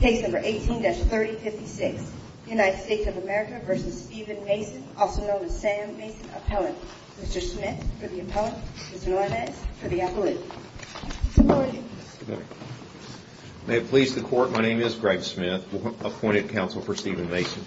May it please the court, my name is Greg Smith, appointed counsel for Steven Mason.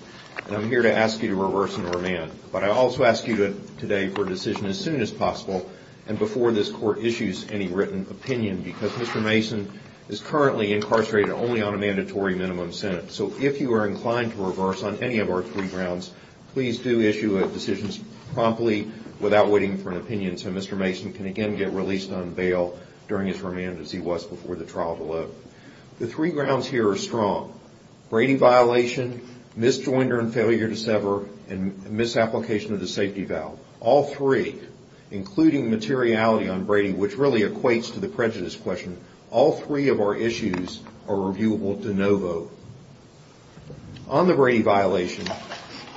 I'm here to ask you to reverse and remand, but I also ask you today for a decision as soon as possible and before this court issues any written opinion because Mr. Mason is currently incarcerated only on a mandatory minimum sentence. So if you are inclined to reverse on any of our three grounds, please do issue a decision promptly without waiting for an opinion so Mr. Mason can again get released on bail during his remand as he was before the trial below. The three grounds here are strong. Brady violation, misjoinder and failure to sever, and misapplication of the safety valve. All three, including materiality on Brady, which really equates to the prejudice question, all three of our issues are reviewable de novo. On the Brady violation,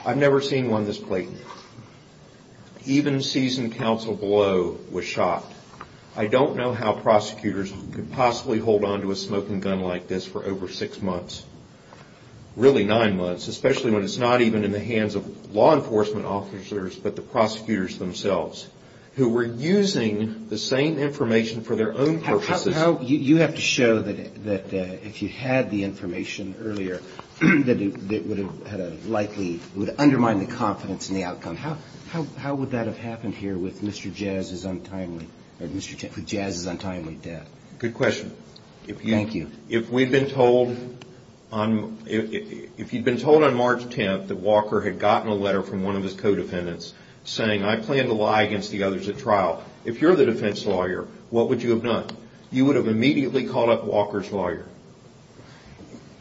I've never seen one this blatant. Even seasoned counsel below was shot. I don't know how prosecutors could possibly hold on to a smoking gun like this for over six months. Really nine months, especially when it's not even in the hands of law enforcement officers but the prosecutors themselves who were using the same information for their own purposes. You have to show that if you had the information earlier, that it would undermine the confidence in the outcome. How would that have happened here with Mr. Jazz's untimely death? Good question. Thank you. If you'd been told on March 10th that Walker had gotten a letter from one of his co-defendants saying, I plan to lie against the others at trial, if you're the defense lawyer, what would you have done? You would have immediately called up Walker's lawyer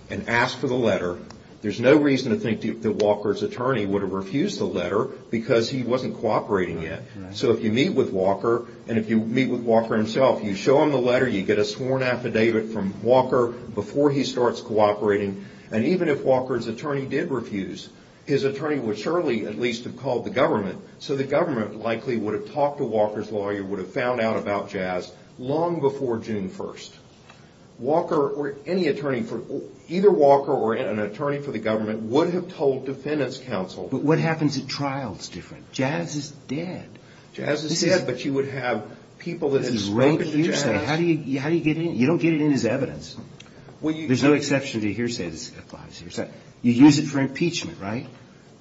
and asked for the letter. There's no reason to think that Walker's attorney would have refused the letter because he wasn't cooperating yet. If you meet with Walker and if you meet with Walker himself, you show him the letter, you get a sworn affidavit from Walker before he starts cooperating. Even if Walker's attorney did refuse, his attorney at least would have called the government, so the government likely would have talked to Walker's lawyer, would have found out about Jazz long before June 1st. Walker or any attorney, either Walker or an attorney for the government would have told defendants counsel. But what happens at trial is different. Jazz is dead. Jazz is dead, but you would have people that had spoken to Jazz. You don't get it in his evidence. There's no exception to hearsay that applies here. You use it for impeachment, right?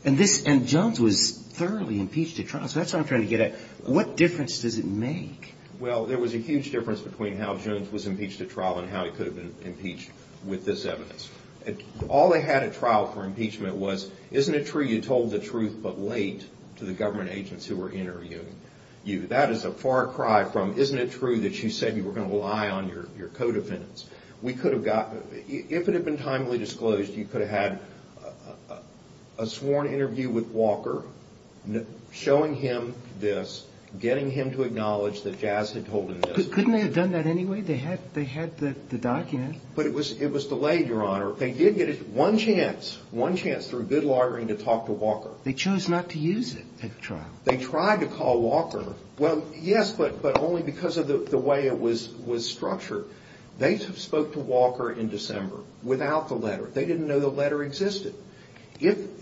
And Jones was thoroughly impeached at trial, so that's what I'm trying to get at. What difference does it make? Well, there was a huge difference between how Jones was impeached at trial and how he could have been impeached with this evidence. All they had at trial for impeachment was, isn't it true you told the truth but late to the government agents who were interviewing you? That is a far cry from, isn't it true that you said you were going to lie on your co-defendants? We could have gotten, if it had been timely disclosed, you could have had a sworn interview with Walker, showing him this, getting him to acknowledge that Jazz had told him this. Couldn't they have done that anyway? They had the document. But it was delayed, Your Honor. They did get one chance, one chance through good lawyering to talk to Walker. They chose not to use it at trial. They tried to call Walker. Well, yes, but only because of the way it was structured. They spoke to Walker in December without the letter. They didn't know the letter existed. And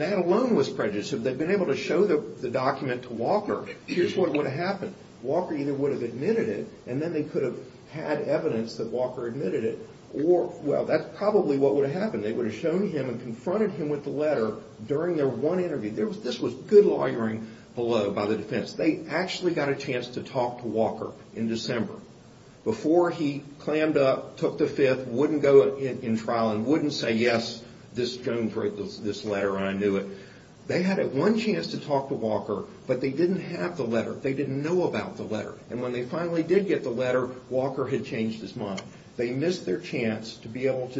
that alone was prejudiced. If they'd been able to show the document to Walker, here's what would have happened. Walker either would have admitted it and then they could have had evidence that Walker admitted it or, well, that's probably what would have happened. They would have shown him and confronted him with the letter during their one interview. This was good lawyering below by the defense. They actually got a chance to talk to Walker in December. Before he clammed up, took the Fifth, wouldn't go in trial and wouldn't say, yes, this Jones wrote this letter and I knew it. They had one chance to talk to Walker, but they didn't have the letter. They didn't know about the letter. And when they finally did get the letter, Walker had changed his mind. They missed their chance to be able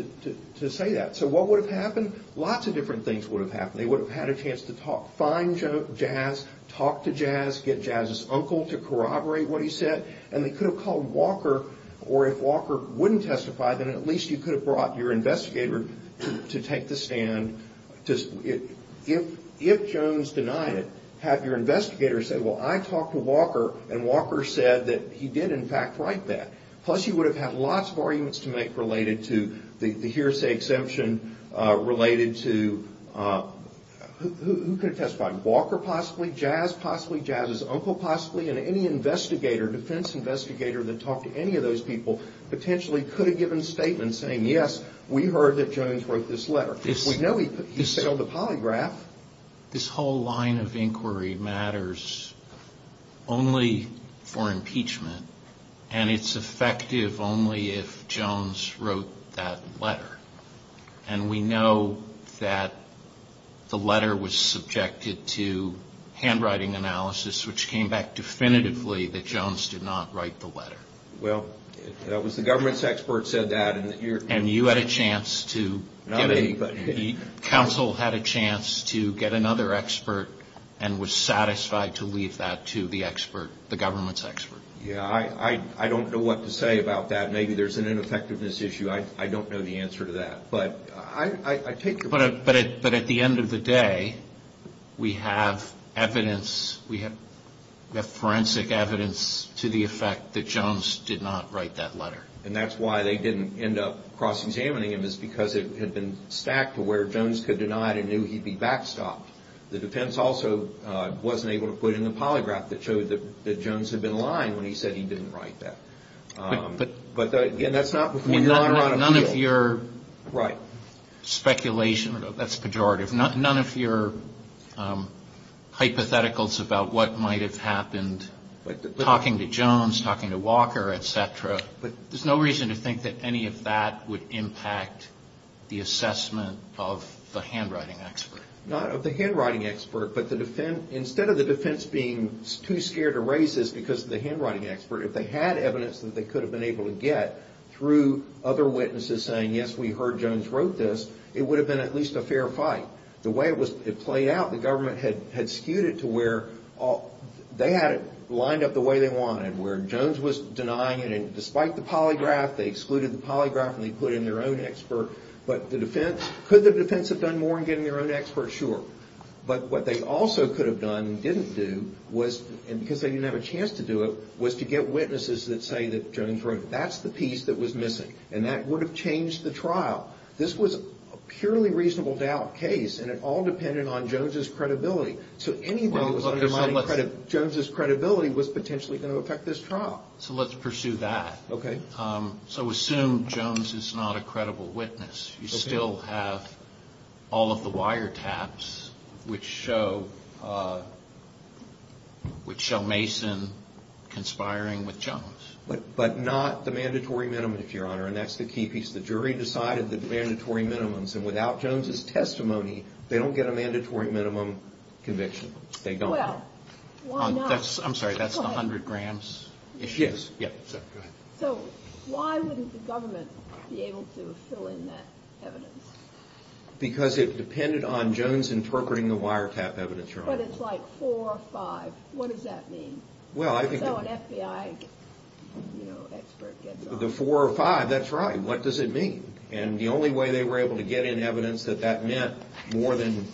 to say that. So what would have happened? Lots of different things would have happened. They would have had a chance to talk, find Jazz, talk to Jazz, get Jazz's uncle to corroborate what he said. And they could have called Walker or if Walker wouldn't testify, then at least you could have brought your investigator to take the stand. If Jones denied it, have your investigator say, well, I talked to Walker and Walker said that he did, in fact, write that. Plus, you would have had lots of arguments to make related to the hearsay exemption related to, who could have testified? Walker or Walker? Walker possibly, Jazz possibly, Jazz's uncle possibly, and any investigator, defense investigator that talked to any of those people potentially could have given a statement saying, yes, we heard that Jones wrote this letter. We know he failed the polygraph. This whole line of inquiry matters only for impeachment and it's effective only if Jones wrote that letter. And we know that the letter was subjected to handwriting analysis, which came back definitively that Jones did not write the letter. Well, if it was the government's expert said that and you're... And you had a chance to... Not anybody. Counsel had a chance to get another expert and was satisfied to leave that to the expert, the government's expert. Yeah, I don't know what to say about that. Maybe there's an ineffectiveness issue. I don't know the answer to that, but I take your point. But at the end of the day, we have evidence, we have forensic evidence to the effect that Jones did not write that letter. And that's why they didn't end up cross-examining him is because it had been stacked to where Jones could deny it and knew he'd be backstopped. The defense also wasn't able to put in the line when he said he didn't write that. But again, that's not before your honor on appeal. None of your speculation, that's pejorative, none of your hypotheticals about what might have happened, talking to Jones, talking to Walker, et cetera, there's no reason to think that any of that would impact the assessment of the handwriting expert. Not of the handwriting expert, but instead of the defense being too scared to raise this because of the handwriting expert, if they had evidence that they could have been able to get through other witnesses saying, yes, we heard Jones wrote this, it would have been at least a fair fight. The way it played out, the government had skewed it to where they had it lined up the way they wanted, where Jones was denying it, and despite the polygraph, they excluded the polygraph and they put in their own expert. But the defense, could the defense have done more and given their own expert? Sure. But what they also could have done and didn't do was, and because they didn't have a chance to do it, was to get witnesses that say that Jones wrote it. That's the piece that was missing and that would have changed the trial. This was a purely reasonable doubt case and it all depended on Jones's credibility. So anything that was undermining Jones's credibility was potentially going to affect this trial. So let's pursue that. Okay. So assume Jones is not a credible witness. You still have all of the wiretaps which show Mason conspiring with Jones. But not the mandatory minimum, if your honor, and that's the key piece. The jury decided the mandatory minimums and without Jones's testimony, they don't get a mandatory minimum conviction. They don't. Well, why not? I'm sorry, that's the 100 grams issue. Yes. So why wouldn't the government be able to fill in that evidence? Because it depended on Jones interpreting the wiretap evidence, your honor. But it's like four or five. What does that mean? So an FBI expert gets on. The four or five, that's right. What does it mean? And the only way they were able to get in evidence that that meant more than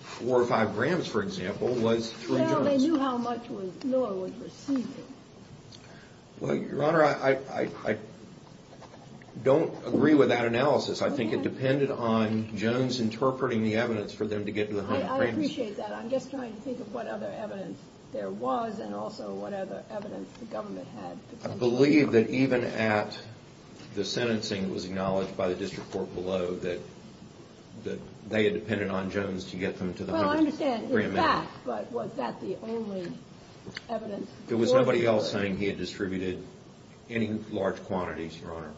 four or five grams, for example, was through Jones. But they knew how much Miller was receiving. Well, your honor, I don't agree with that analysis. I think it depended on Jones interpreting the evidence for them to get to the 100 grams. I appreciate that. I'm just trying to think of what other evidence there was and also what other evidence the government had. I believe that even at the sentencing, it was acknowledged by the district court below that they had depended on Jones to get them to the 100 grams. I understand. It's a fact. But was that the only evidence? There was nobody else saying he had distributed any large quantities, your honor.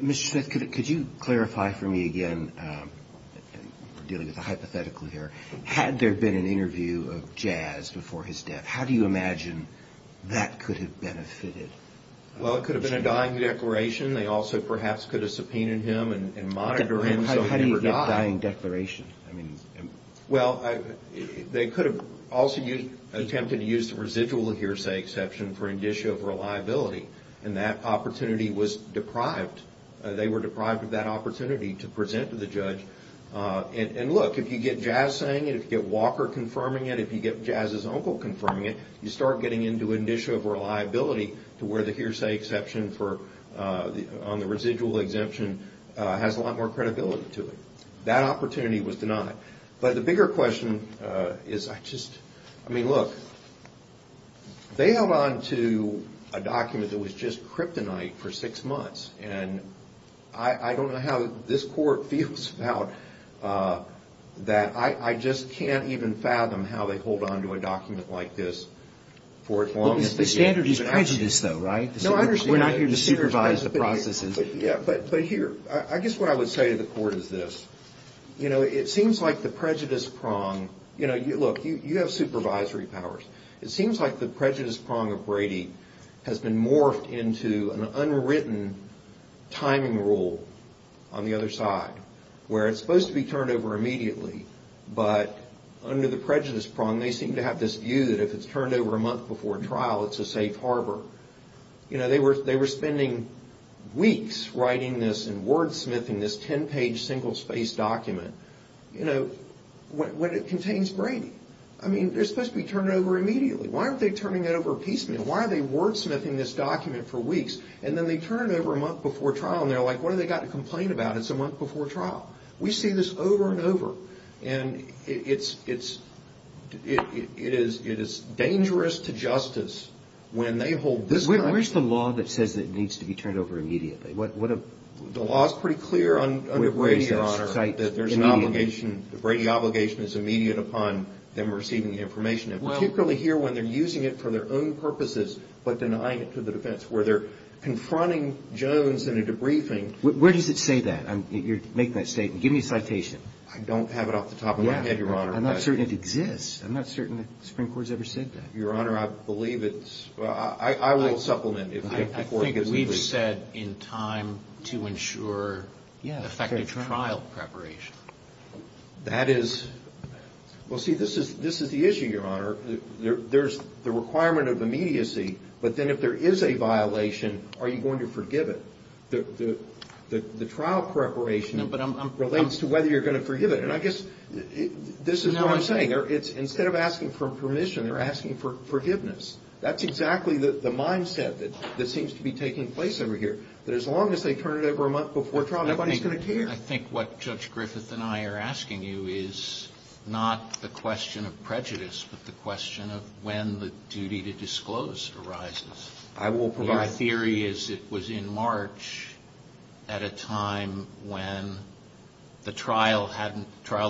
Mr. Smith, could you clarify for me again? We're dealing with a hypothetical here. Had there been an interview of Jazz before his death, how do you imagine that could have benefited? Well, it could have been a dying declaration. They also perhaps could have subpoenaed him and monitored him so he never died. A dying declaration? Well, they could have also attempted to use the residual hearsay exception for indicia of reliability. And that opportunity was deprived. They were deprived of that opportunity to present to the judge. And look, if you get Jazz saying it, if you get Walker confirming it, if you get Jazz's uncle confirming it, you start getting into indicia of reliability to where the hearsay exception on the residual exemption has a lot more credibility to it. That opportunity was denied. But the bigger question is, I just, I mean, look, they held on to a document that was just kryptonite for six months. And I don't know how this court feels about that. I just can't even fathom how they hold on to a document like this for as long as they can. The standard is prejudice, though, right? We're not here to supervise the processes. But here, I guess what I would say to the court is this, you know, it seems like the prejudice prong, you know, look, you have supervisory powers. It seems like the prejudice prong of Brady has been morphed into an unwritten timing rule on the other side, where it's supposed to be turned over immediately. But under the prejudice prong, they seem to have this view that if it's turned over a month before trial, it's a safe harbor. You know, they were spending weeks writing this and wordsmithing this 10-page single-spaced document, you know, when it contains Brady. I mean, they're supposed to be turned over immediately. Why aren't they turning it over piecemeal? Why are they wordsmithing this document for weeks? And then they turn it over a month before trial, and they're like, what do they got to complain about? It's a month before trial. We see this over and over. And it is dangerous to justice when they hold this kind of... Where's the law that says it needs to be turned over immediately? The law is pretty clear under Brady, Your Honor, that there's an obligation, the Brady obligation is immediate upon them receiving the information, particularly here when they're using it for their own purposes, but denying it to the defense, where they're confronting Jones in a debriefing... Where does it say that? You're making that statement. Give me a citation. I don't have it off the top of my head, Your Honor. I'm not certain it exists. I'm not certain the Supreme Court has ever said that. Your Honor, I believe it's... I will supplement it before it gets released. I think we've said in time to ensure effective trial preparation. That is... Well, see, this is the issue, Your Honor. There's the requirement of immediacy, but then if there is a violation, are you going to forgive it? The trial preparation relates to whether you're going to forgive it. And I guess this is what I'm saying. Instead of asking for permission, they're asking for forgiveness. That's exactly the mindset that seems to be taking place over here, that as long as they turn it over a month before trial, nobody's going to care. I think what Judge Griffith and I are asking you is not the question of prejudice, but the question of when the duty to disclose arises. I will provide... Your theory is it was in March at a time when the trial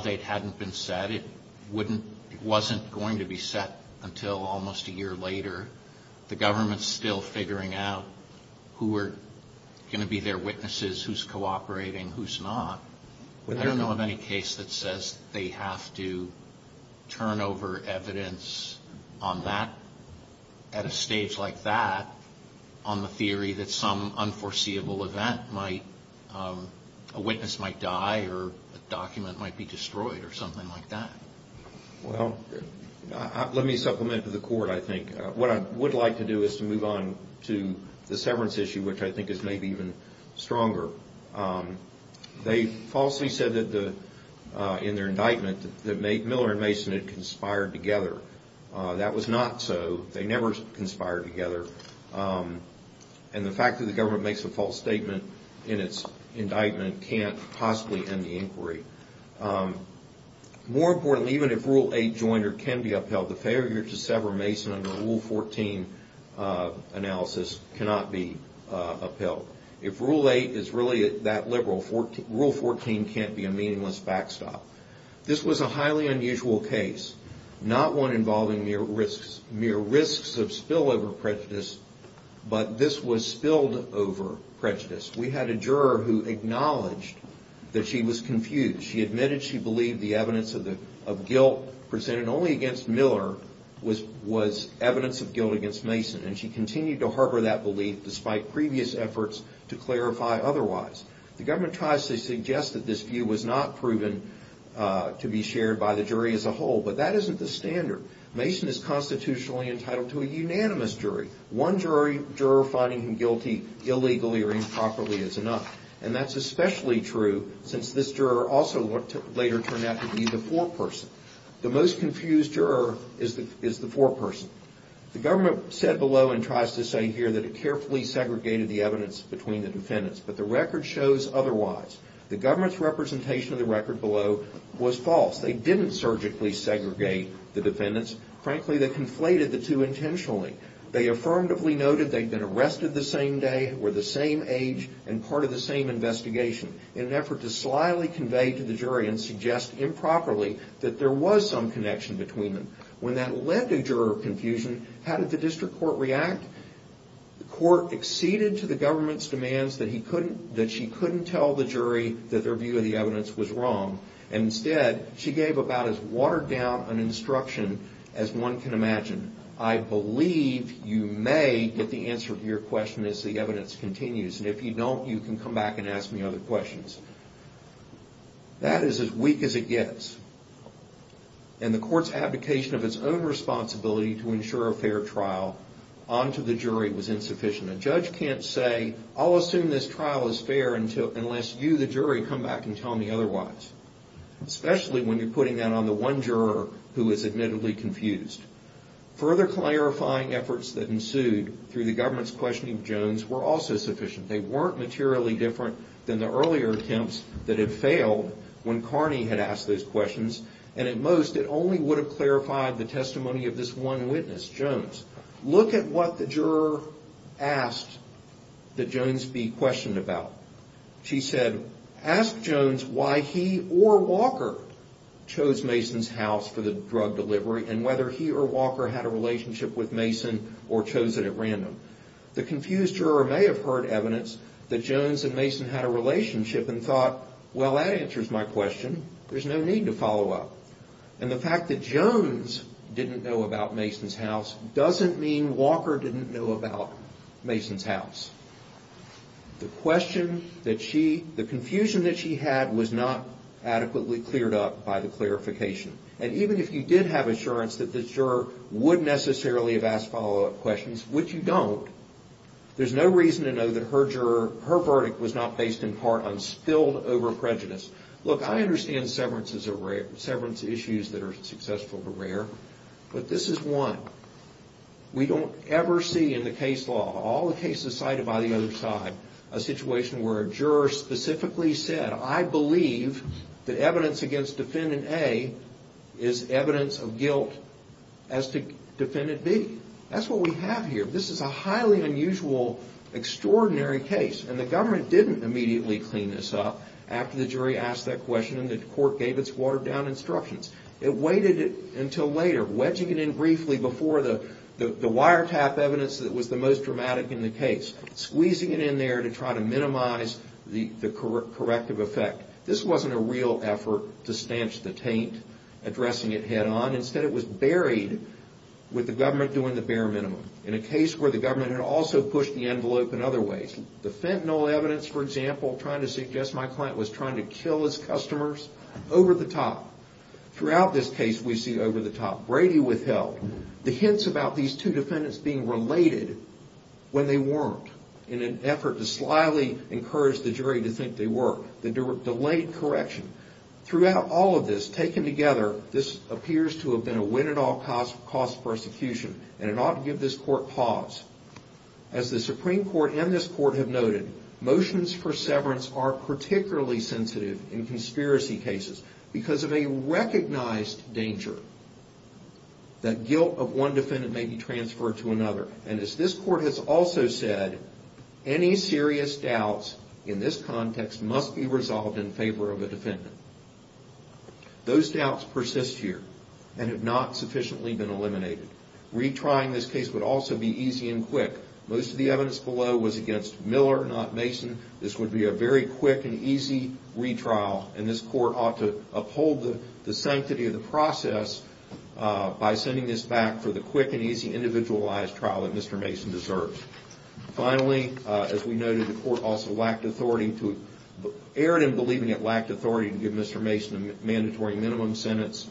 date hadn't been set. It wouldn't... It wasn't going to be set until almost a year later. The government's still figuring out who are going to be their witnesses, who's cooperating, who's not. I don't know of any case that says they have to turn over evidence on that, at a stage like that, on the theory that some unforeseeable event might... A witness might die or a document might be destroyed or something like that. Well, let me supplement to the court, I think. What I would like to do is to move on to the severance issue, which I think is maybe even stronger. They falsely said that in their indictment that Miller and Mason had conspired together. That was not so. They never conspired together. And the fact that the government makes a false statement in its indictment can't possibly end the inquiry. More importantly, even if Rule 8 joiner can be upheld, the failure to sever Mason under Rule 14 analysis cannot be upheld. If Rule 8 is really that liberal, Rule 14 can't be a meaningless backstop. This was a highly unusual case. Not one involving mere risks of spillover prejudice, but this was spilled over prejudice. We had a juror who acknowledged that she was confused. She admitted she believed the evidence of guilt presented only against Miller was evidence of guilt against Mason, and she continued to harbor that belief despite previous efforts to clarify otherwise. The government tries to suggest that this view was not proven to be shared by the jury as a whole, but that isn't the standard. Mason is constitutionally entitled to a unanimous jury. One juror finding him guilty illegally or improperly is enough, and that's especially true since this juror also later turned out to be the foreperson. The most confused juror is the foreperson. The government said below and tries to say here that it carefully segregated the evidence between the defendants, but the record shows otherwise. The government's representation of the record below was false. They didn't surgically segregate the defendants. Frankly, they conflated the two intentionally. They affirmatively noted they had been arrested the same day, were the same age, and part of the same investigation in an effort to slyly convey to the jury and suggest improperly that there was some connection between them. When that led to juror confusion, how did the district court react? The court acceded to the government's demands that she couldn't tell the jury that their view of the evidence was wrong. Instead, she gave about as watered down an instruction as one can imagine. I believe you may get the answer to your question as the evidence continues, and if you don't, you can come back and ask me other questions. That is as weak as it gets, and the court's abdication of its own responsibility to ensure a fair trial onto the jury was insufficient. A judge can't say, I'll assume this trial is fair unless you, the jury, come back and tell me otherwise, especially when you're putting that on the one juror who is admittedly confused. Further clarifying efforts that ensued through the government's questioning of Jones were also sufficient. They weren't materially different than the earlier attempts that had failed when Carney had asked those questions, and at most, it only would have clarified the testimony of this one witness, Jones. Look at what the juror asked that Jones be questioned about. She said, ask Jones why he or Walker chose Mason's house for the drug delivery and whether he or Walker had a relationship with Mason or chose it at random. The confused juror may have heard evidence that Jones and Mason had a relationship and thought, well, that answers my question. There's no need to follow up. And the fact that Jones didn't know about Mason's house doesn't mean Walker didn't know about Mason's house. The question that she, the confusion that she had was not adequately cleared up by the clarification. And even if you did have assurance that the juror would necessarily have asked follow-up questions, which you don't, there's no reason to know that her verdict was not based in part on spilled over prejudice. Look, I understand severances are rare, severance issues that are successful are rare, but this is one. We don't ever see in the case law, all the cases cited by the other side, a situation where a juror specifically said, I believe that evidence against Defendant A is evidence of guilt as to Defendant B. That's what we have here. This is a highly unusual, extraordinary case, and the government didn't immediately clean this up after the jury asked that question and the court gave its watered-down instructions. It waited until later, wedging it in briefly before the wiretap evidence that was the most dramatic in the case, squeezing it in there to try to minimize the corrective effect. This wasn't a real effort to stanch the taint, addressing it head-on. Instead, it was buried with the government doing the bare minimum in a case where the government had also pushed the envelope in other ways. The fentanyl evidence, for example, trying to suggest my client was trying to kill his customers, over-the-top. Throughout this case, we see over-the-top. Brady withheld. The hints about these two defendants being related when they weren't, in an effort to slyly encourage the jury to think they were. The delayed correction. Throughout all of this, taken together, this appears to have been a win-at-all-costs persecution, and it ought to give this court pause. As the Supreme Court and this court have noted, motions for severance are particularly sensitive in conspiracy cases because of a recognized danger that guilt of one defendant may be transferred to another. As this court has also said, any serious doubts in this context must be resolved in favor of a defendant. Those doubts persist here and have not sufficiently been eliminated. Retrying this case would also be easy and quick. Most of the evidence below was against Miller, not Mason. This would be a very quick and easy retrial, and this court ought to uphold the sanctity of the process by sending this back for the quick and easy individualized trial that Mr. Mason deserves. Finally, as we noted, the court also lacked authority to...erred in believing it lacked authority to give Mr. Mason a mandatory minimum sentence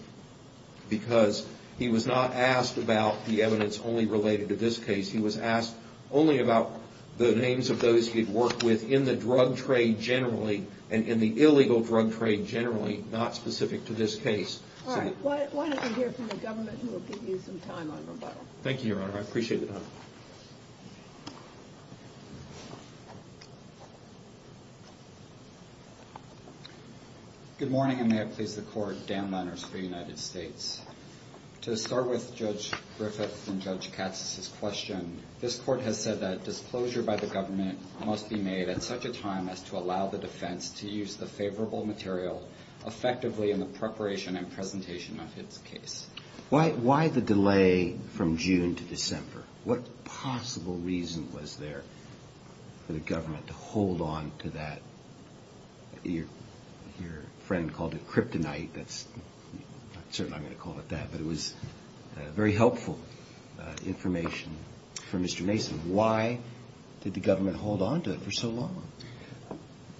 because he was not asked about the evidence only related to this case. He was asked only about the names of those he had worked with in the drug trade generally and in the illegal drug trade generally, not specific to this case. All right. Why don't we hear from the government, who will give you some time on rebuttal? Thank you, Your Honor. I appreciate the time. Good morning, and may it please the court, Dan Lenners for the United States. To start with Judge Griffith and Judge Katz's question, this court has said that disclosure by the government must be made at such a time as to allow the defense to use the favorable material effectively in the preparation and presentation of its case. Why the delay from June to December? What possible reason was there for the government to hold on to that? Your friend called it kryptonite. That's...certainly I'm not going to call it that, but it was very helpful information for Mr. Mason. Why did the government hold on to it for so long?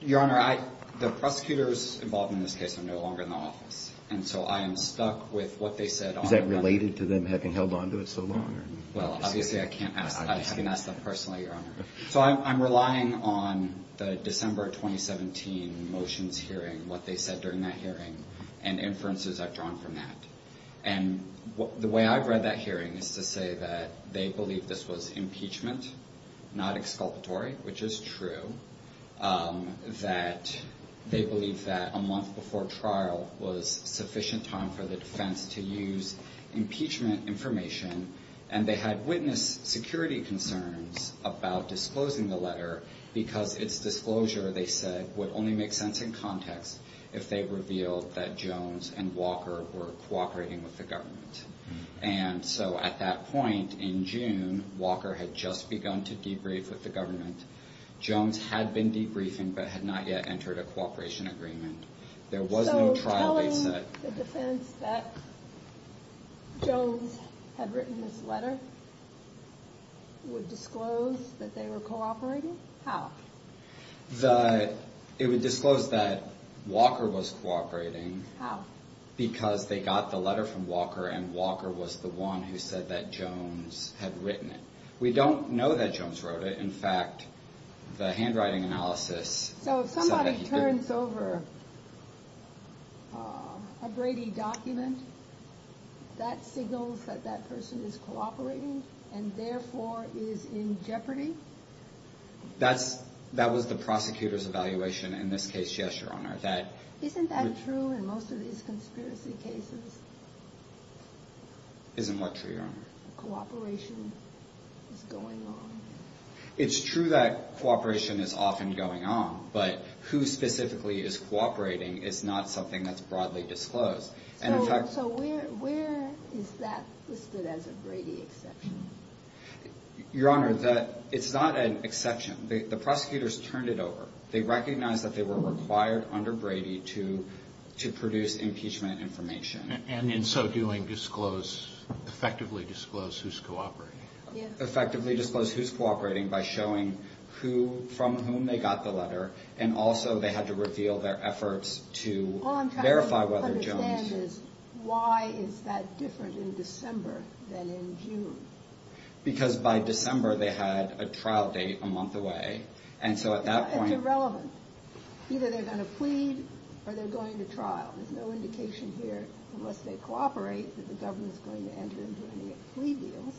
Your Honor, the prosecutors involved in this case are no longer in the office, and so I am stuck with what they said on... Is that related to them having held on to it so long? Well, obviously I can't ask that. I haven't asked that personally, Your Honor. So I'm relying on the December 2017 motions hearing, what they said during that hearing, and inferences I've drawn from that. And the way I've read that hearing is to say that they believe this was impeachment, not exculpatory, which is true. That they believe that a month before trial was sufficient time for the defense to use impeachment information, and they had witnessed security concerns about disclosing the letter because its disclosure, they said, would only make sense in context if they revealed that Jones and Walker were cooperating with the government. And so at that point in June, Walker had just begun to debrief with the government. Jones had been debriefing, but had not yet entered a cooperation agreement. So telling the defense that Jones had written this letter would disclose that they were cooperating? How? It would disclose that Walker was cooperating because they got the letter from Walker, and Walker was the one who said that Jones had written it. We don't know that Jones wrote it. In fact, the handwriting analysis said that he didn't. So if it's over a Brady document, that signals that that person is cooperating and therefore is in jeopardy? That was the prosecutor's evaluation in this case, yes, Your Honor. Isn't that true in most of these conspiracy cases? Isn't what true, Your Honor? Cooperation is going on. It's true that cooperation is often going on, but who specifically is cooperating is not something that's broadly disclosed. So where is that listed as a Brady exception? Your Honor, it's not an exception. The prosecutors turned it over. They recognized that they were required under Brady to produce impeachment information. And in so doing, effectively disclose who's cooperating. Effectively disclose who's cooperating by showing who, from whom they got the letter, and also they had to reveal their efforts to verify whether Jones... All I'm trying to understand is why is that different in December than in June? Because by December they had a trial date a month away, and so at that point... It's irrelevant. Either they're going to plead, or they're going to trial. There's no indication here, unless they cooperate, that the government's going to enter into any plea deals.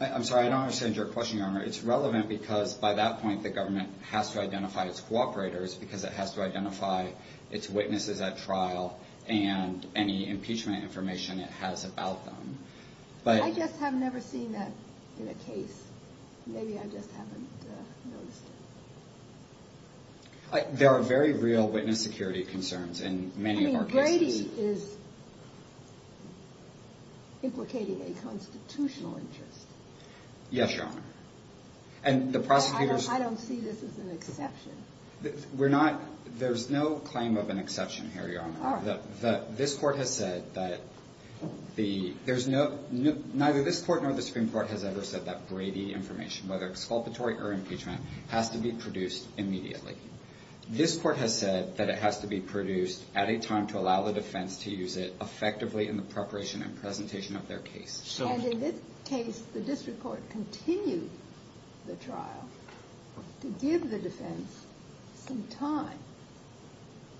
I'm sorry, I don't understand your question, Your Honor. It's relevant because by that point the government has to identify its cooperators because it has to identify its witnesses at trial and any impeachment information it has about them. I just have never seen that in a case. Maybe I just haven't noticed it. There are very real witness security concerns in many of our cases. Brady is implicating a constitutional interest. Yes, Your Honor. And the prosecutors... I don't see this as an exception. We're not... There's no claim of an exception here, Your Honor. All right. This Court has said that the... There's no... Neither this Court nor the Supreme Court has ever said that Brady information, whether exculpatory or impeachment, has to be produced by the defense to use it effectively in the preparation and presentation of their case. And in this case, the district court continued the trial to give the defense some time.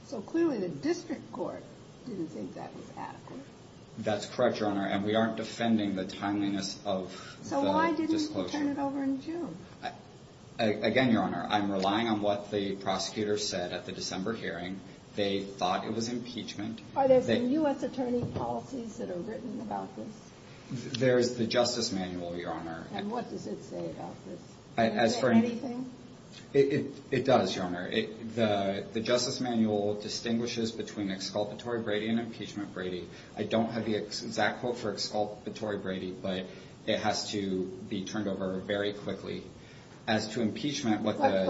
So clearly the district court didn't think that was adequate. That's correct, Your Honor, and we aren't defending the timeliness of the disclosure. So why didn't you turn it over in June? Again, Your Honor, I'm relying on what the prosecutors said at the December hearing. They thought it was impeachment. Are there some U.S. attorney policies that are written about this? There's the Justice Manual, Your Honor. And what does it say about this? As for... Anything? It does, Your Honor. The Justice Manual distinguishes between exculpatory Brady and impeachment Brady. I don't have the exact quote for exculpatory Brady, but it has to be turned over very quickly. As to impeachment, what the... the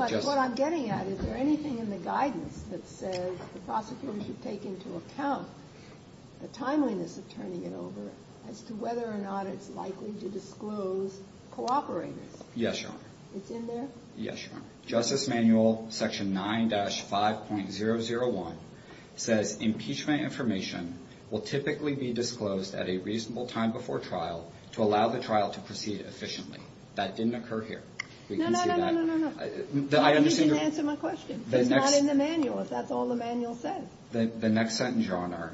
prosecutors should take into account, the timeliness of turning it over, as to whether or not it's likely to disclose cooperators. Yes, Your Honor. It's in there? Yes, Your Honor. Justice Manual Section 9-5.001 says impeachment information will typically be disclosed at a reasonable time before trial to allow the trial to proceed efficiently. That didn't occur here. No, no, no, no, no, no, no. You didn't answer my question. It's not in the manual. That's all the manual says. The next sentence, Your Honor,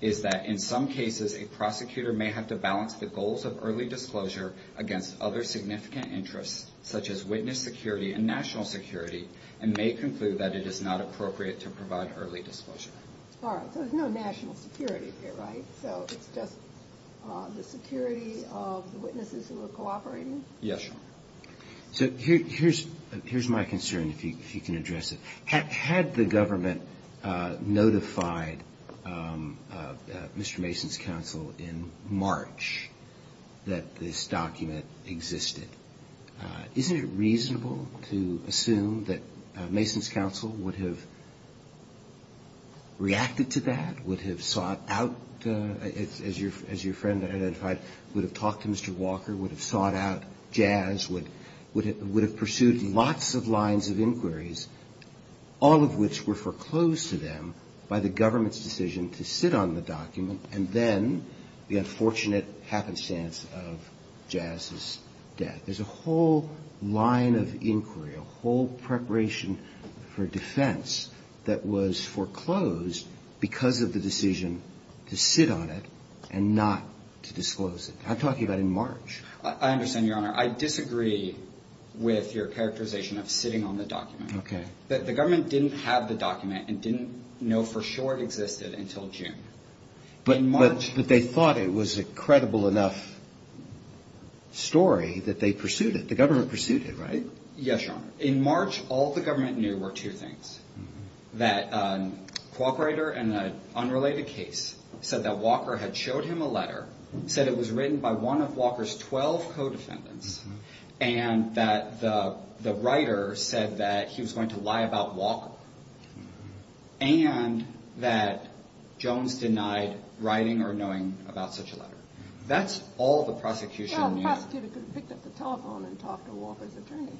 is that in some cases, a prosecutor may have to balance the goals of early disclosure against other significant interests, such as witness security and national security, and may conclude that it is not appropriate to provide early disclosure. All right, so there's no national security here, right? So it's just the security of the witnesses who are cooperating? Yes, Your Honor. So here's my concern, if you can address it. Had the government notified Mr. Mason's counsel in March that this document existed, isn't it reasonable to assume that Mason's counsel would have reacted to that, would have sought out, as your friend identified, would have talked to Mr. Walker, would have sought out Jazz, would have pursued lots of lines of inquiries, all of which were foreclosed to them by the government's decision to sit on the document, and then the unfortunate happenstance of Jazz's death? There's a whole line of inquiry, a whole preparation for defense, that was foreclosed because of the decision to sit on it and not to disclose it. I'm talking about in March. I understand, Your Honor. I disagree with your characterization of sitting on the document. Okay. The government didn't have the document and didn't know for sure it existed until June. But they thought it was a credible enough story that they pursued it. The government pursued it, right? Yes, Your Honor. In March, all the government knew were two things, that Quokkwriter and an unrelated case said that Walker had showed him a letter, said it was written by one of Walker's 12 co-defendants, and that the writer said that he was going to lie about Walker, and that Jones denied writing or knowing about such a letter. That's all the prosecution knew. Well, the prosecutor could have picked up the telephone and talked to Walker's attorney.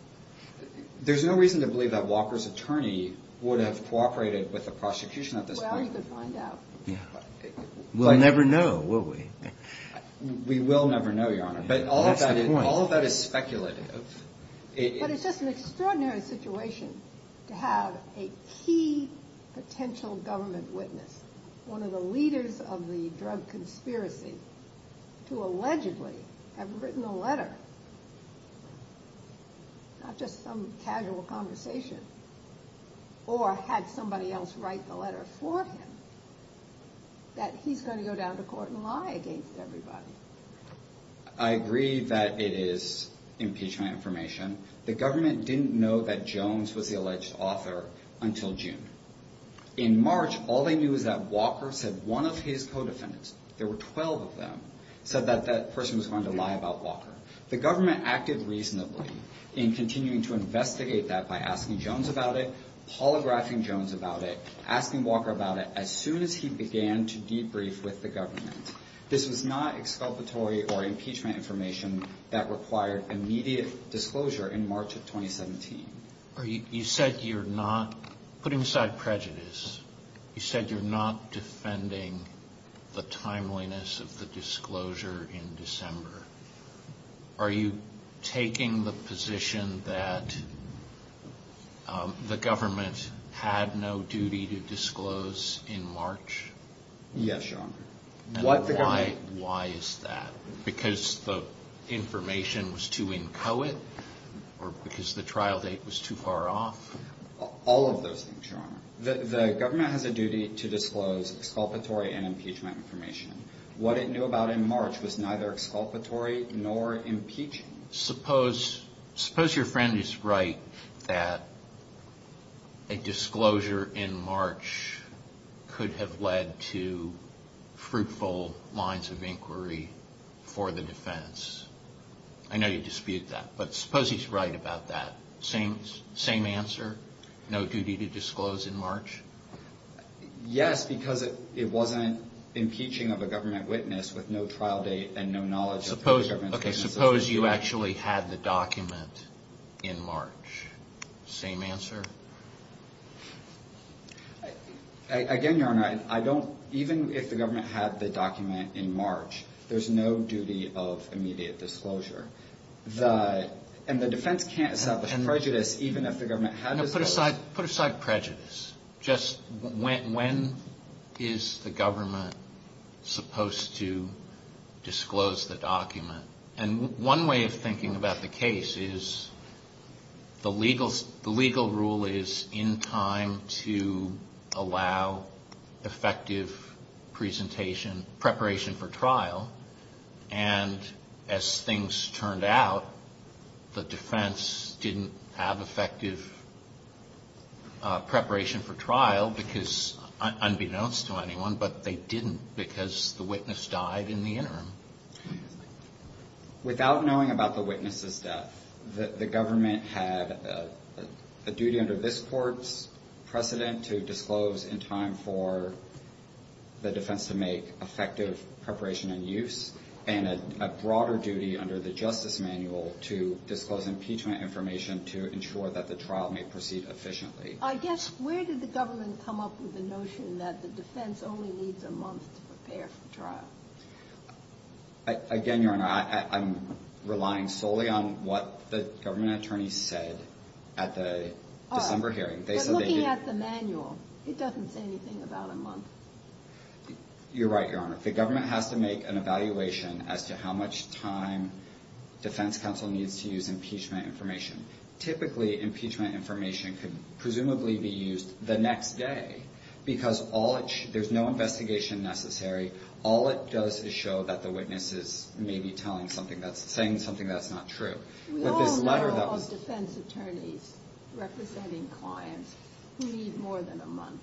There's no reason to believe that Walker's attorney would have cooperated with the prosecution at this point. Well, you could find out. We'll never know, will we? We will never know, Your Honor. But all of that is speculative. But it's just an extraordinary situation to have a key potential government witness, one of the leaders of the drug conspiracy, to allegedly have written a letter, not just some casual conversation, or had somebody else write the letter for him, that he's going to go down to court and lie against everybody. I agree that it is impeachment information. The government didn't know that Jones was the alleged author until June. In March, all they knew is that Walker said one of his co-defendants, there were 12 of them, said that that person was going to lie about Walker. The government acted reasonably in continuing to investigate that by asking Jones about it, polygraphing Jones about it, asking Walker about it, as soon as he began to debrief with the government. This was not exculpatory or impeachment information that required immediate disclosure in March of 2017. You said you're not putting aside prejudice. You said you're not defending the timeliness of the disclosure in December. Are you taking the position that the government had no duty to disclose in March? Yes, Your Honor. Why is that? Because the information was too inchoate? Or because the trial date was too far off? All of those things, Your Honor. The government has a duty to disclose exculpatory and impeachment information. What it knew about in March was neither exculpatory nor impeachment. Suppose your friend is right that a disclosure in March could have led to fruitful lines of inquiry for the defense. I know you dispute that, but suppose he's right about that. Same answer? No duty to disclose in March? Yes, because it wasn't impeaching of a government witness with no trial date and no knowledge of the government's witnesses. Okay, suppose you actually had the document in March. Same answer? Again, Your Honor, even if the government had the document in March, there's no duty of immediate disclosure. And the defense can't establish prejudice even if the government had disclosed it. Put aside prejudice. Just when is the government supposed to disclose the document? And one way of thinking about the case is the legal rule is in time to allow effective preparation for trial. And as things turned out, the defense didn't have effective preparation for trial, unbeknownst to anyone, but they didn't because the witness died in the interim. Without knowing about the witness's death, the government had a duty under this court's precedent to disclose in time for the defense to make effective preparation and use, and a broader duty under the justice manual to disclose impeachment information to ensure that the trial may proceed efficiently. I guess, where did the government come up with the notion that the defense only needs a month to prepare for trial? Again, Your Honor, I'm relying solely on what the government attorneys said at the December hearing. But looking at the manual, it doesn't say anything about a month. You're right, Your Honor. The government has to make an evaluation as to how much time defense counsel needs to use impeachment information. Typically, impeachment information could presumably be used the next day because there's no investigation necessary. All it does is show that the witness is maybe saying something that's not true. We all know of defense attorneys representing clients who need more than a month.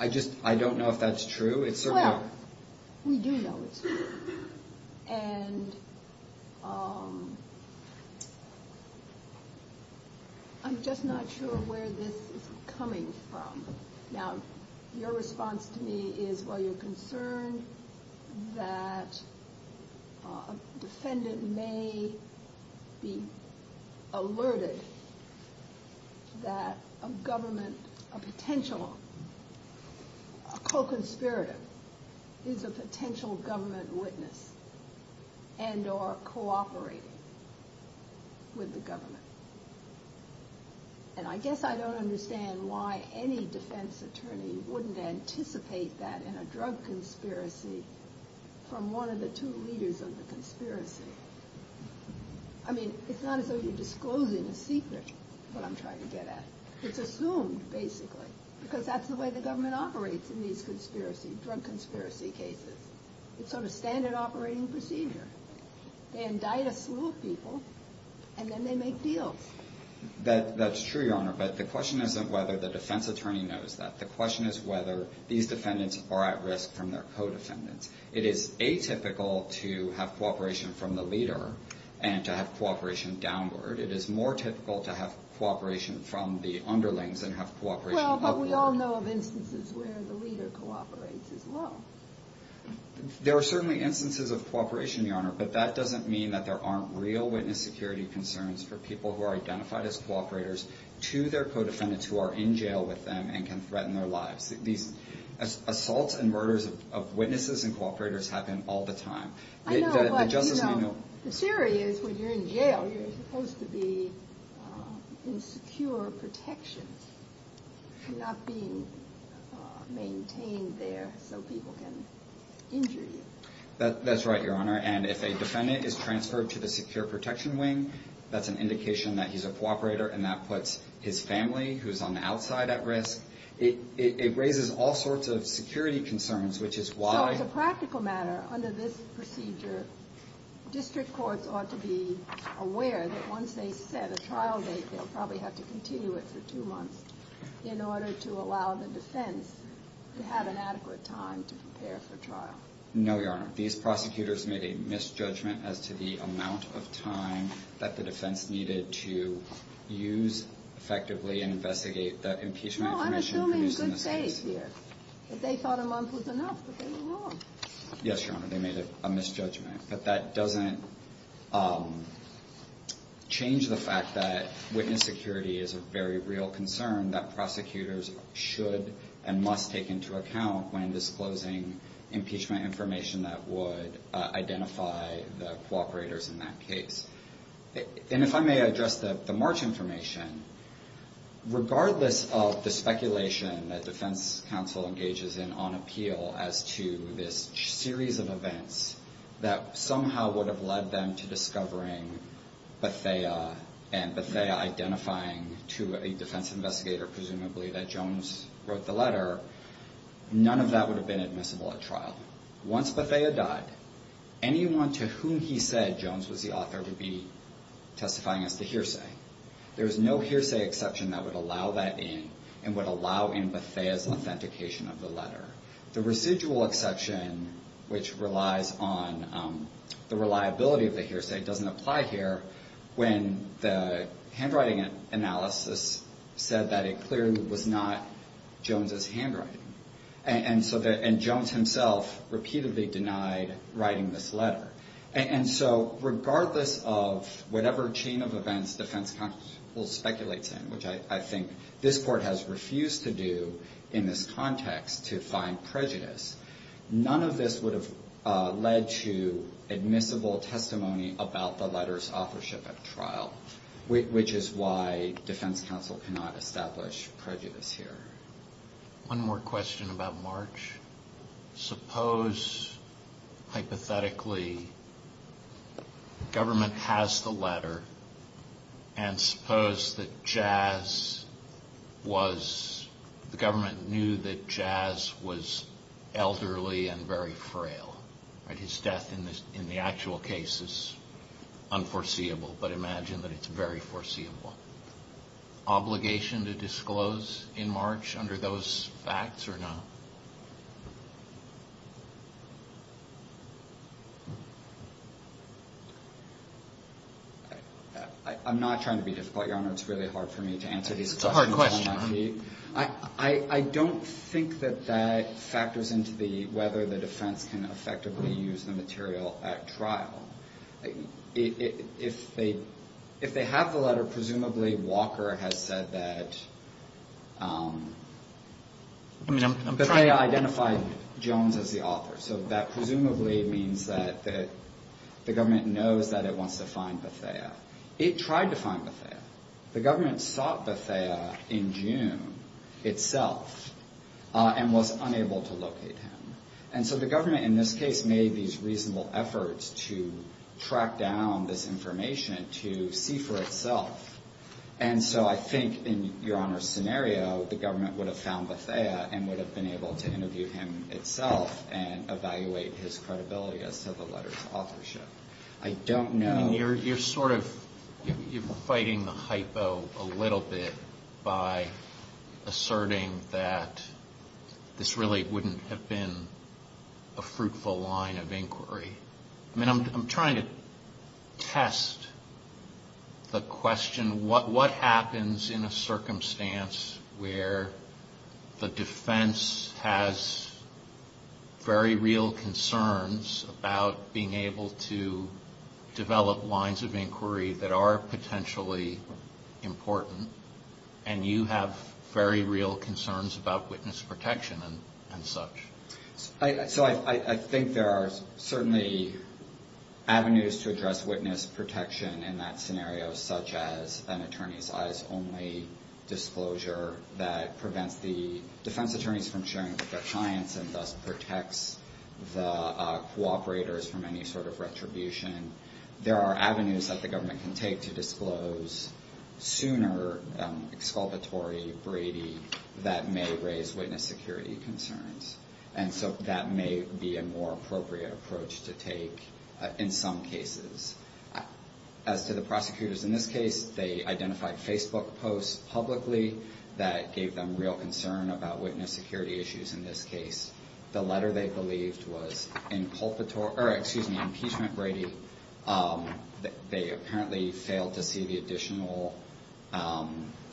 I just don't know if that's true. Well, we do know it's true. And I'm just not sure where this is coming from. Now, your response to me is, well, you're concerned that a defendant may be alerted that a government, a potential co-conspirator is a potential government witness and or cooperating with the government. And I guess I don't understand why any defense attorney wouldn't anticipate that in a drug conspiracy from one of the two leaders of the conspiracy. I mean, it's not as though you're disclosing a secret, what I'm trying to get at. It's assumed, basically, because that's the way the government operates in these drug conspiracy cases. It's sort of standard operating procedure. They indict a slew of people, and then they make deals. That's true, Your Honor, but the question isn't whether the defense attorney knows that. The question is whether these defendants are at risk from their co-defendants. It is atypical to have cooperation from the leader and to have cooperation downward. It is more typical to have cooperation from the underlings and have cooperation upward. Well, but we all know of instances where the leader cooperates as well. There are certainly instances of cooperation, Your Honor, but that doesn't mean that there aren't real witness security concerns for people who are identified as cooperators to their co-defendants who are in jail with them and can threaten their lives. These assaults and murders of witnesses and cooperators happen all the time. I know, but, you know, the theory is when you're in jail, you're supposed to be in secure protection. You're not being maintained there so people can injure you. That's right, Your Honor, and if a defendant is transferred to the secure protection wing, that's an indication that he's a cooperator, and that puts his family, who's on the outside at risk. It raises all sorts of security concerns, which is why. So as a practical matter, under this procedure, district courts ought to be aware that once they set a trial date, they'll probably have to continue it for two months in order to allow the defense to have an adequate time to prepare for trial. No, Your Honor. These prosecutors made a misjudgment as to the amount of time that the defense needed to use effectively and investigate the impeachment information produced in this case. No, I'm assuming good faith here. They thought a month was enough, but they were wrong. Yes, Your Honor, they made a misjudgment, but that doesn't change the fact that witness security is a very real concern that prosecutors should and must take into account when disclosing impeachment information that would identify the cooperators in that case. And if I may address the March information, regardless of the speculation that defense counsel engages in on appeal as to this series of events that somehow would have led them to discovering Bethea and Bethea identifying to a defense investigator, presumably that Jones wrote the letter, none of that would have been admissible at trial. Once Bethea died, anyone to whom he said Jones was the author would be testifying as the hearsay. There is no hearsay exception that would allow that in and would allow in Bethea's authentication of the letter. The residual exception, which relies on the reliability of the hearsay, doesn't apply here when the handwriting analysis said that it clearly was not Jones's handwriting. And Jones himself repeatedly denied writing this letter. And so regardless of whatever chain of events defense counsel speculates in, which I think this court has refused to do in this context to find prejudice, none of this would have led to admissible testimony about the letter's authorship at trial, which is why defense counsel cannot establish prejudice here. One more question about March. Suppose, hypothetically, government has the letter and suppose that Jazz was, the government knew that Jazz was elderly and very frail. His death in the actual case is unforeseeable, but imagine that it's very foreseeable. Is there an obligation to disclose in March under those facts or not? I'm not trying to be difficult, Your Honor. It's really hard for me to answer these questions on my feet. It's a hard question. I don't think that that factors into whether the defense can effectively use the material at trial. If they have the letter, presumably Walker has said that Bethea identified Jones as the author. So that presumably means that the government knows that it wants to find Bethea. It tried to find Bethea. The government sought Bethea in June itself and was unable to locate him. And so the government in this case made these reasonable efforts to track down this information to see for itself. And so I think in Your Honor's scenario, the government would have found Bethea and would have been able to interview him itself and evaluate his credibility as to the letter's authorship. I don't know. I mean, you're sort of fighting the hypo a little bit by asserting that this really wouldn't have been a fruitful line of inquiry. I mean, I'm trying to test the question. What happens in a circumstance where the defense has very real concerns about being able to develop lines of inquiry that are potentially important and you have very real concerns about witness protection and such? So I think there are certainly avenues to address witness protection in that scenario, such as an attorney's eyes only disclosure that prevents the defense attorneys from sharing with their clients and thus protects the cooperators from any sort of retribution. There are avenues that the government can take to disclose sooner exculpatory Brady that may raise witness security concerns. And so that may be a more appropriate approach to take in some cases. As to the prosecutors in this case, they identified Facebook posts publicly that gave them real concern about witness security issues in this case. The letter they believed was impeachment Brady. They apparently failed to see the additional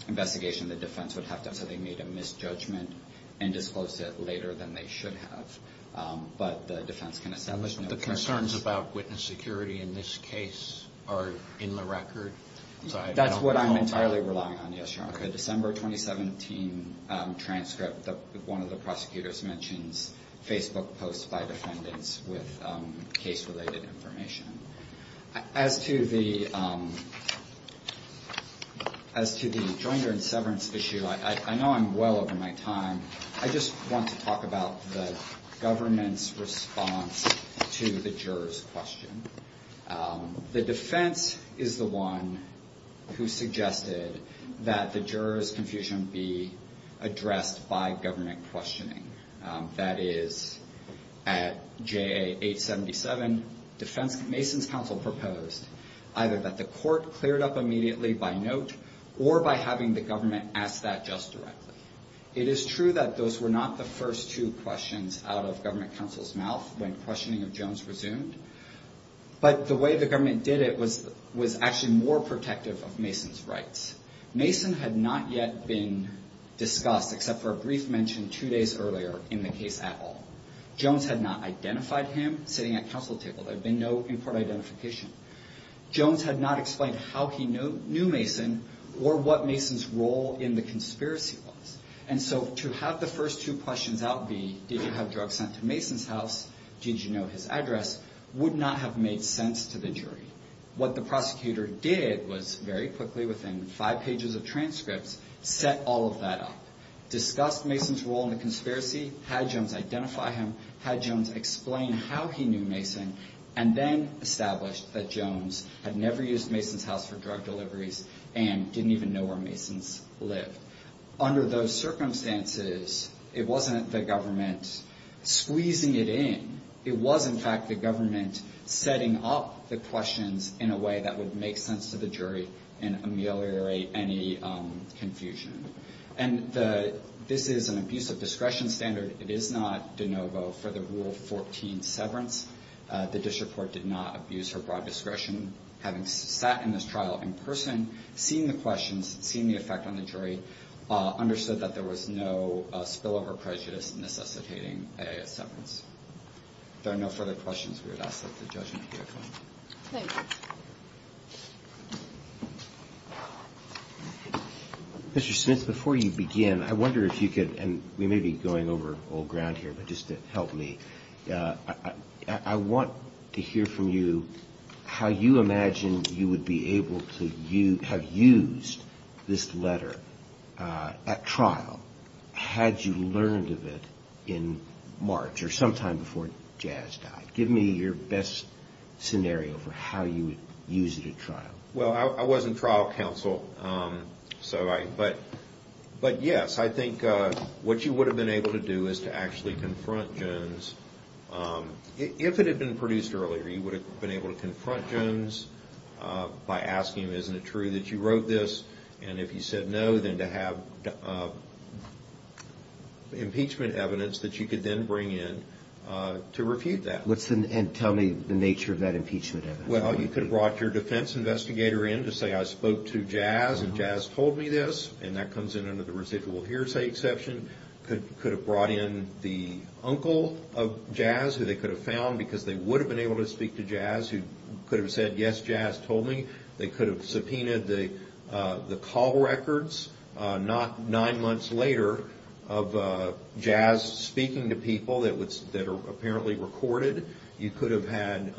investigation the defense would have to have, so they made a misjudgment and disclosed it later than they should have. But the defense can establish no concerns. The concerns about witness security in this case are in the record? That's what I'm entirely relying on, yes, Your Honor. In the December 2017 transcript, one of the prosecutors mentions Facebook posts by defendants with case-related information. As to the joinder and severance issue, I know I'm well over my time. I just want to talk about the government's response to the juror's question. The defense is the one who suggested that the juror's confusion be addressed by government questioning. That is, at JA 877, Mason's counsel proposed either that the court clear it up immediately by note or by having the government ask that just directly. It is true that those were not the first two questions out of government counsel's mouth when questioning of Jones resumed, but the way the government did it was actually more protective of Mason's rights. Mason had not yet been discussed except for a brief mention two days earlier in the case at all. Jones had not identified him sitting at counsel's table. There had been no important identification. Jones had not explained how he knew Mason or what Mason's role in the conspiracy was. And so to have the first two questions out be, did you have drugs sent to Mason's house, did you know his address, would not have made sense to the jury. What the prosecutor did was very quickly, within five pages of transcripts, set all of that up. Discussed Mason's role in the conspiracy, had Jones identify him, had Jones explain how he knew Mason, and then established that Jones had never used Mason's house for drug deliveries and didn't even know where Mason's lived. Under those circumstances, it wasn't the government squeezing it in. It was, in fact, the government setting up the questions in a way that would make sense to the jury and ameliorate any confusion. And this is an abusive discretion standard. It is not de novo for the Rule 14 severance. The district court did not abuse her broad discretion. Having sat in this trial in person, seeing the questions, seeing the effect on the jury, understood that there was no spillover prejudice necessitating a severance. If there are no further questions, we would ask that the judge make a motion. Thank you. Mr. Smith, before you begin, I wonder if you could, and we may be going over old ground here, but just to help me, I want to hear from you how you imagine you would be able to have used this letter at trial had you learned of it in March, or sometime before Jazz died. Give me your best scenario for how you would use it at trial. Well, I was in trial counsel, but yes, I think what you would have been able to do is to actually confront Jones. If it had been produced earlier, you would have been able to confront Jones by asking him, isn't it true that you wrote this, and if he said no, then to have impeachment evidence that you could then bring in to refute that. And tell me the nature of that impeachment evidence. Well, you could have brought your defense investigator in to say, I spoke to Jazz, and Jazz told me this, and that comes in under the residual hearsay exception. You could have brought in the uncle of Jazz, who they could have found, because they would have been able to speak to Jazz, who could have said, yes, Jazz told me. They could have subpoenaed the call records not nine months later of Jazz speaking to people that are apparently recorded. You could have had,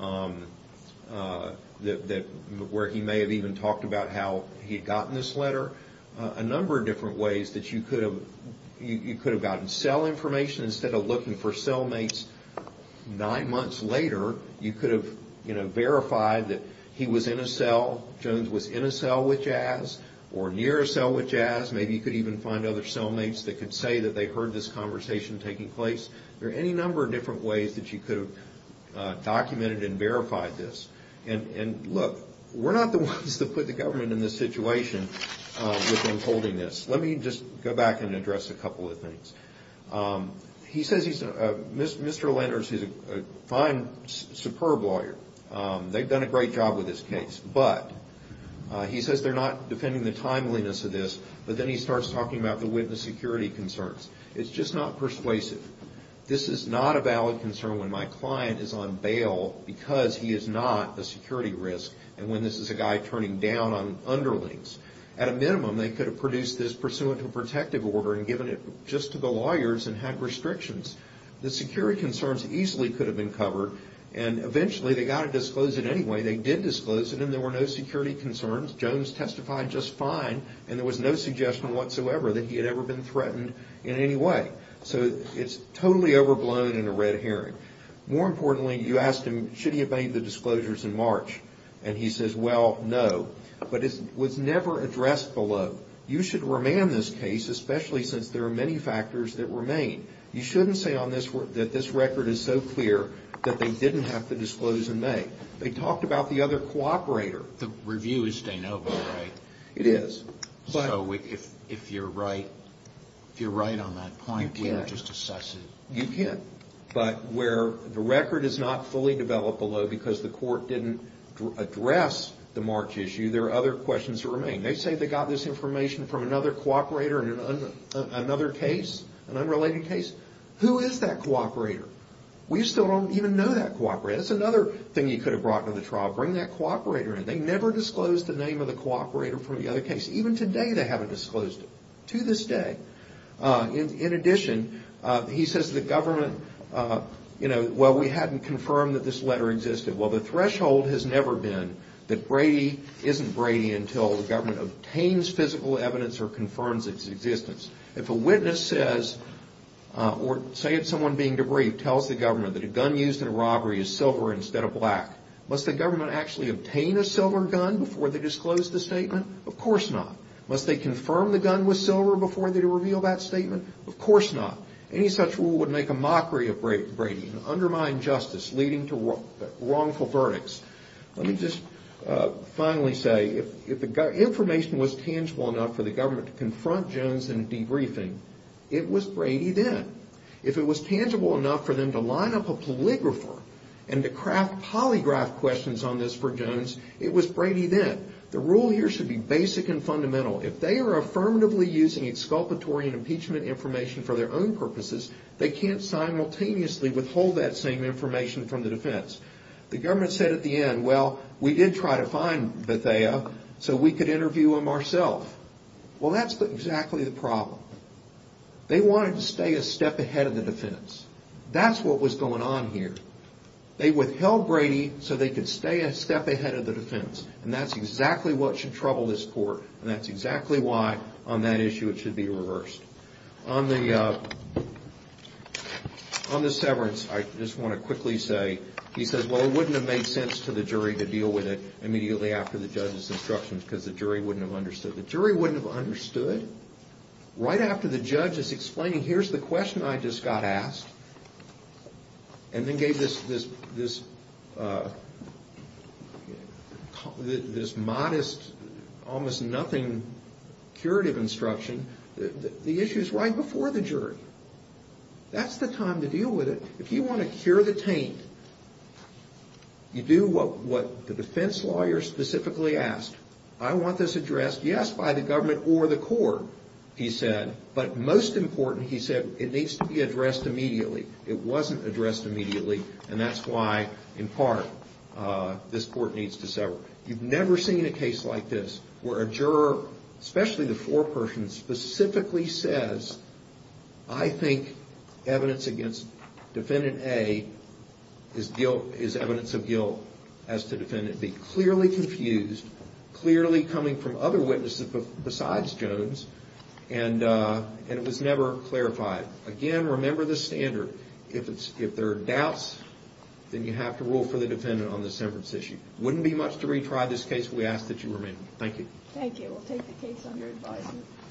where he may have even talked about how he had gotten this letter, a number of different ways that you could have gotten cell information. Instead of looking for cellmates nine months later, you could have verified that he was in a cell, Jones was in a cell with Jazz, or near a cell with Jazz. Maybe you could even find other cellmates that could say that they heard this conversation taking place. There are any number of different ways that you could have documented and verified this. And look, we're not the ones that put the government in this situation with them holding this. Let me just go back and address a couple of things. He says Mr. Landers is a fine, superb lawyer. They've done a great job with this case. But he says they're not defending the timeliness of this, but then he starts talking about the witness security concerns. It's just not persuasive. This is not a valid concern when my client is on bail because he is not a security risk, and when this is a guy turning down on underlings. At a minimum, they could have produced this pursuant to a protective order and given it just to the lawyers and had restrictions. The security concerns easily could have been covered, and eventually they got to disclose it anyway. They did disclose it, and there were no security concerns. Jones testified just fine, and there was no suggestion whatsoever that he had ever been threatened in any way. So it's totally overblown and a red herring. More importantly, you asked him should he have made the disclosures in March, and he says, well, no, but it was never addressed below. You should remand this case, especially since there are many factors that remain. You shouldn't say that this record is so clear that they didn't have to disclose in May. They talked about the other cooperator. The review is de novo, right? It is. So if you're right on that point, we would just assess it. You can, but where the record is not fully developed below because the court didn't address the March issue, there are other questions that remain. They say they got this information from another cooperator in another case, an unrelated case. Who is that cooperator? We still don't even know that cooperator. That's another thing you could have brought to the trial, bring that cooperator in. They never disclosed the name of the cooperator from the other case. Even today they haven't disclosed it to this day. In addition, he says the government, you know, well, we hadn't confirmed that this letter existed. Well, the threshold has never been that Brady isn't Brady until the government obtains physical evidence or confirms its existence. If a witness says, or say it's someone being debriefed, tells the government that a gun used in a robbery is silver instead of black, must the government actually obtain a silver gun before they disclose the statement? Of course not. Must they confirm the gun was silver before they reveal that statement? Of course not. Any such rule would make a mockery of Brady and undermine justice leading to wrongful verdicts. Let me just finally say, if the information was tangible enough for the government to confront Jones in debriefing, it was Brady then. If it was tangible enough for them to line up a polygrapher and to craft polygraph questions on this for Jones, it was Brady then. The rule here should be basic and fundamental. If they are affirmatively using exculpatory and impeachment information for their own purposes, they can't simultaneously withhold that same information from the defense. The government said at the end, well, we did try to find Bethea so we could interview him ourself. Well, that's exactly the problem. They wanted to stay a step ahead of the defense. That's what was going on here. They withheld Brady so they could stay a step ahead of the defense, and that's exactly what should trouble this court, and that's exactly why on that issue it should be reversed. On the severance, I just want to quickly say, he says, well, it wouldn't have made sense to the jury to deal with it immediately after the judge's instructions because the jury wouldn't have understood. The jury wouldn't have understood? Right after the judge is explaining, here's the question I just got asked, and then gave this modest, almost nothing curative instruction, the issue is right before the jury. That's the time to deal with it. If you want to cure the taint, you do what the defense lawyer specifically asked. I want this addressed, yes, by the government or the court, he said, but most important, he said, it needs to be addressed immediately. It wasn't addressed immediately, and that's why, in part, this court needs to sever. You've never seen a case like this where a juror, especially the foreperson, specifically says, I think evidence against Defendant A is evidence of guilt as to Defendant B. It's clearly coming from other witnesses besides Jones, and it was never clarified. Again, remember the standard. If there are doubts, then you have to rule for the defendant on the severance issue. It wouldn't be much to retry this case. We ask that you remain. Thank you. Thank you. We'll take the case under advisement.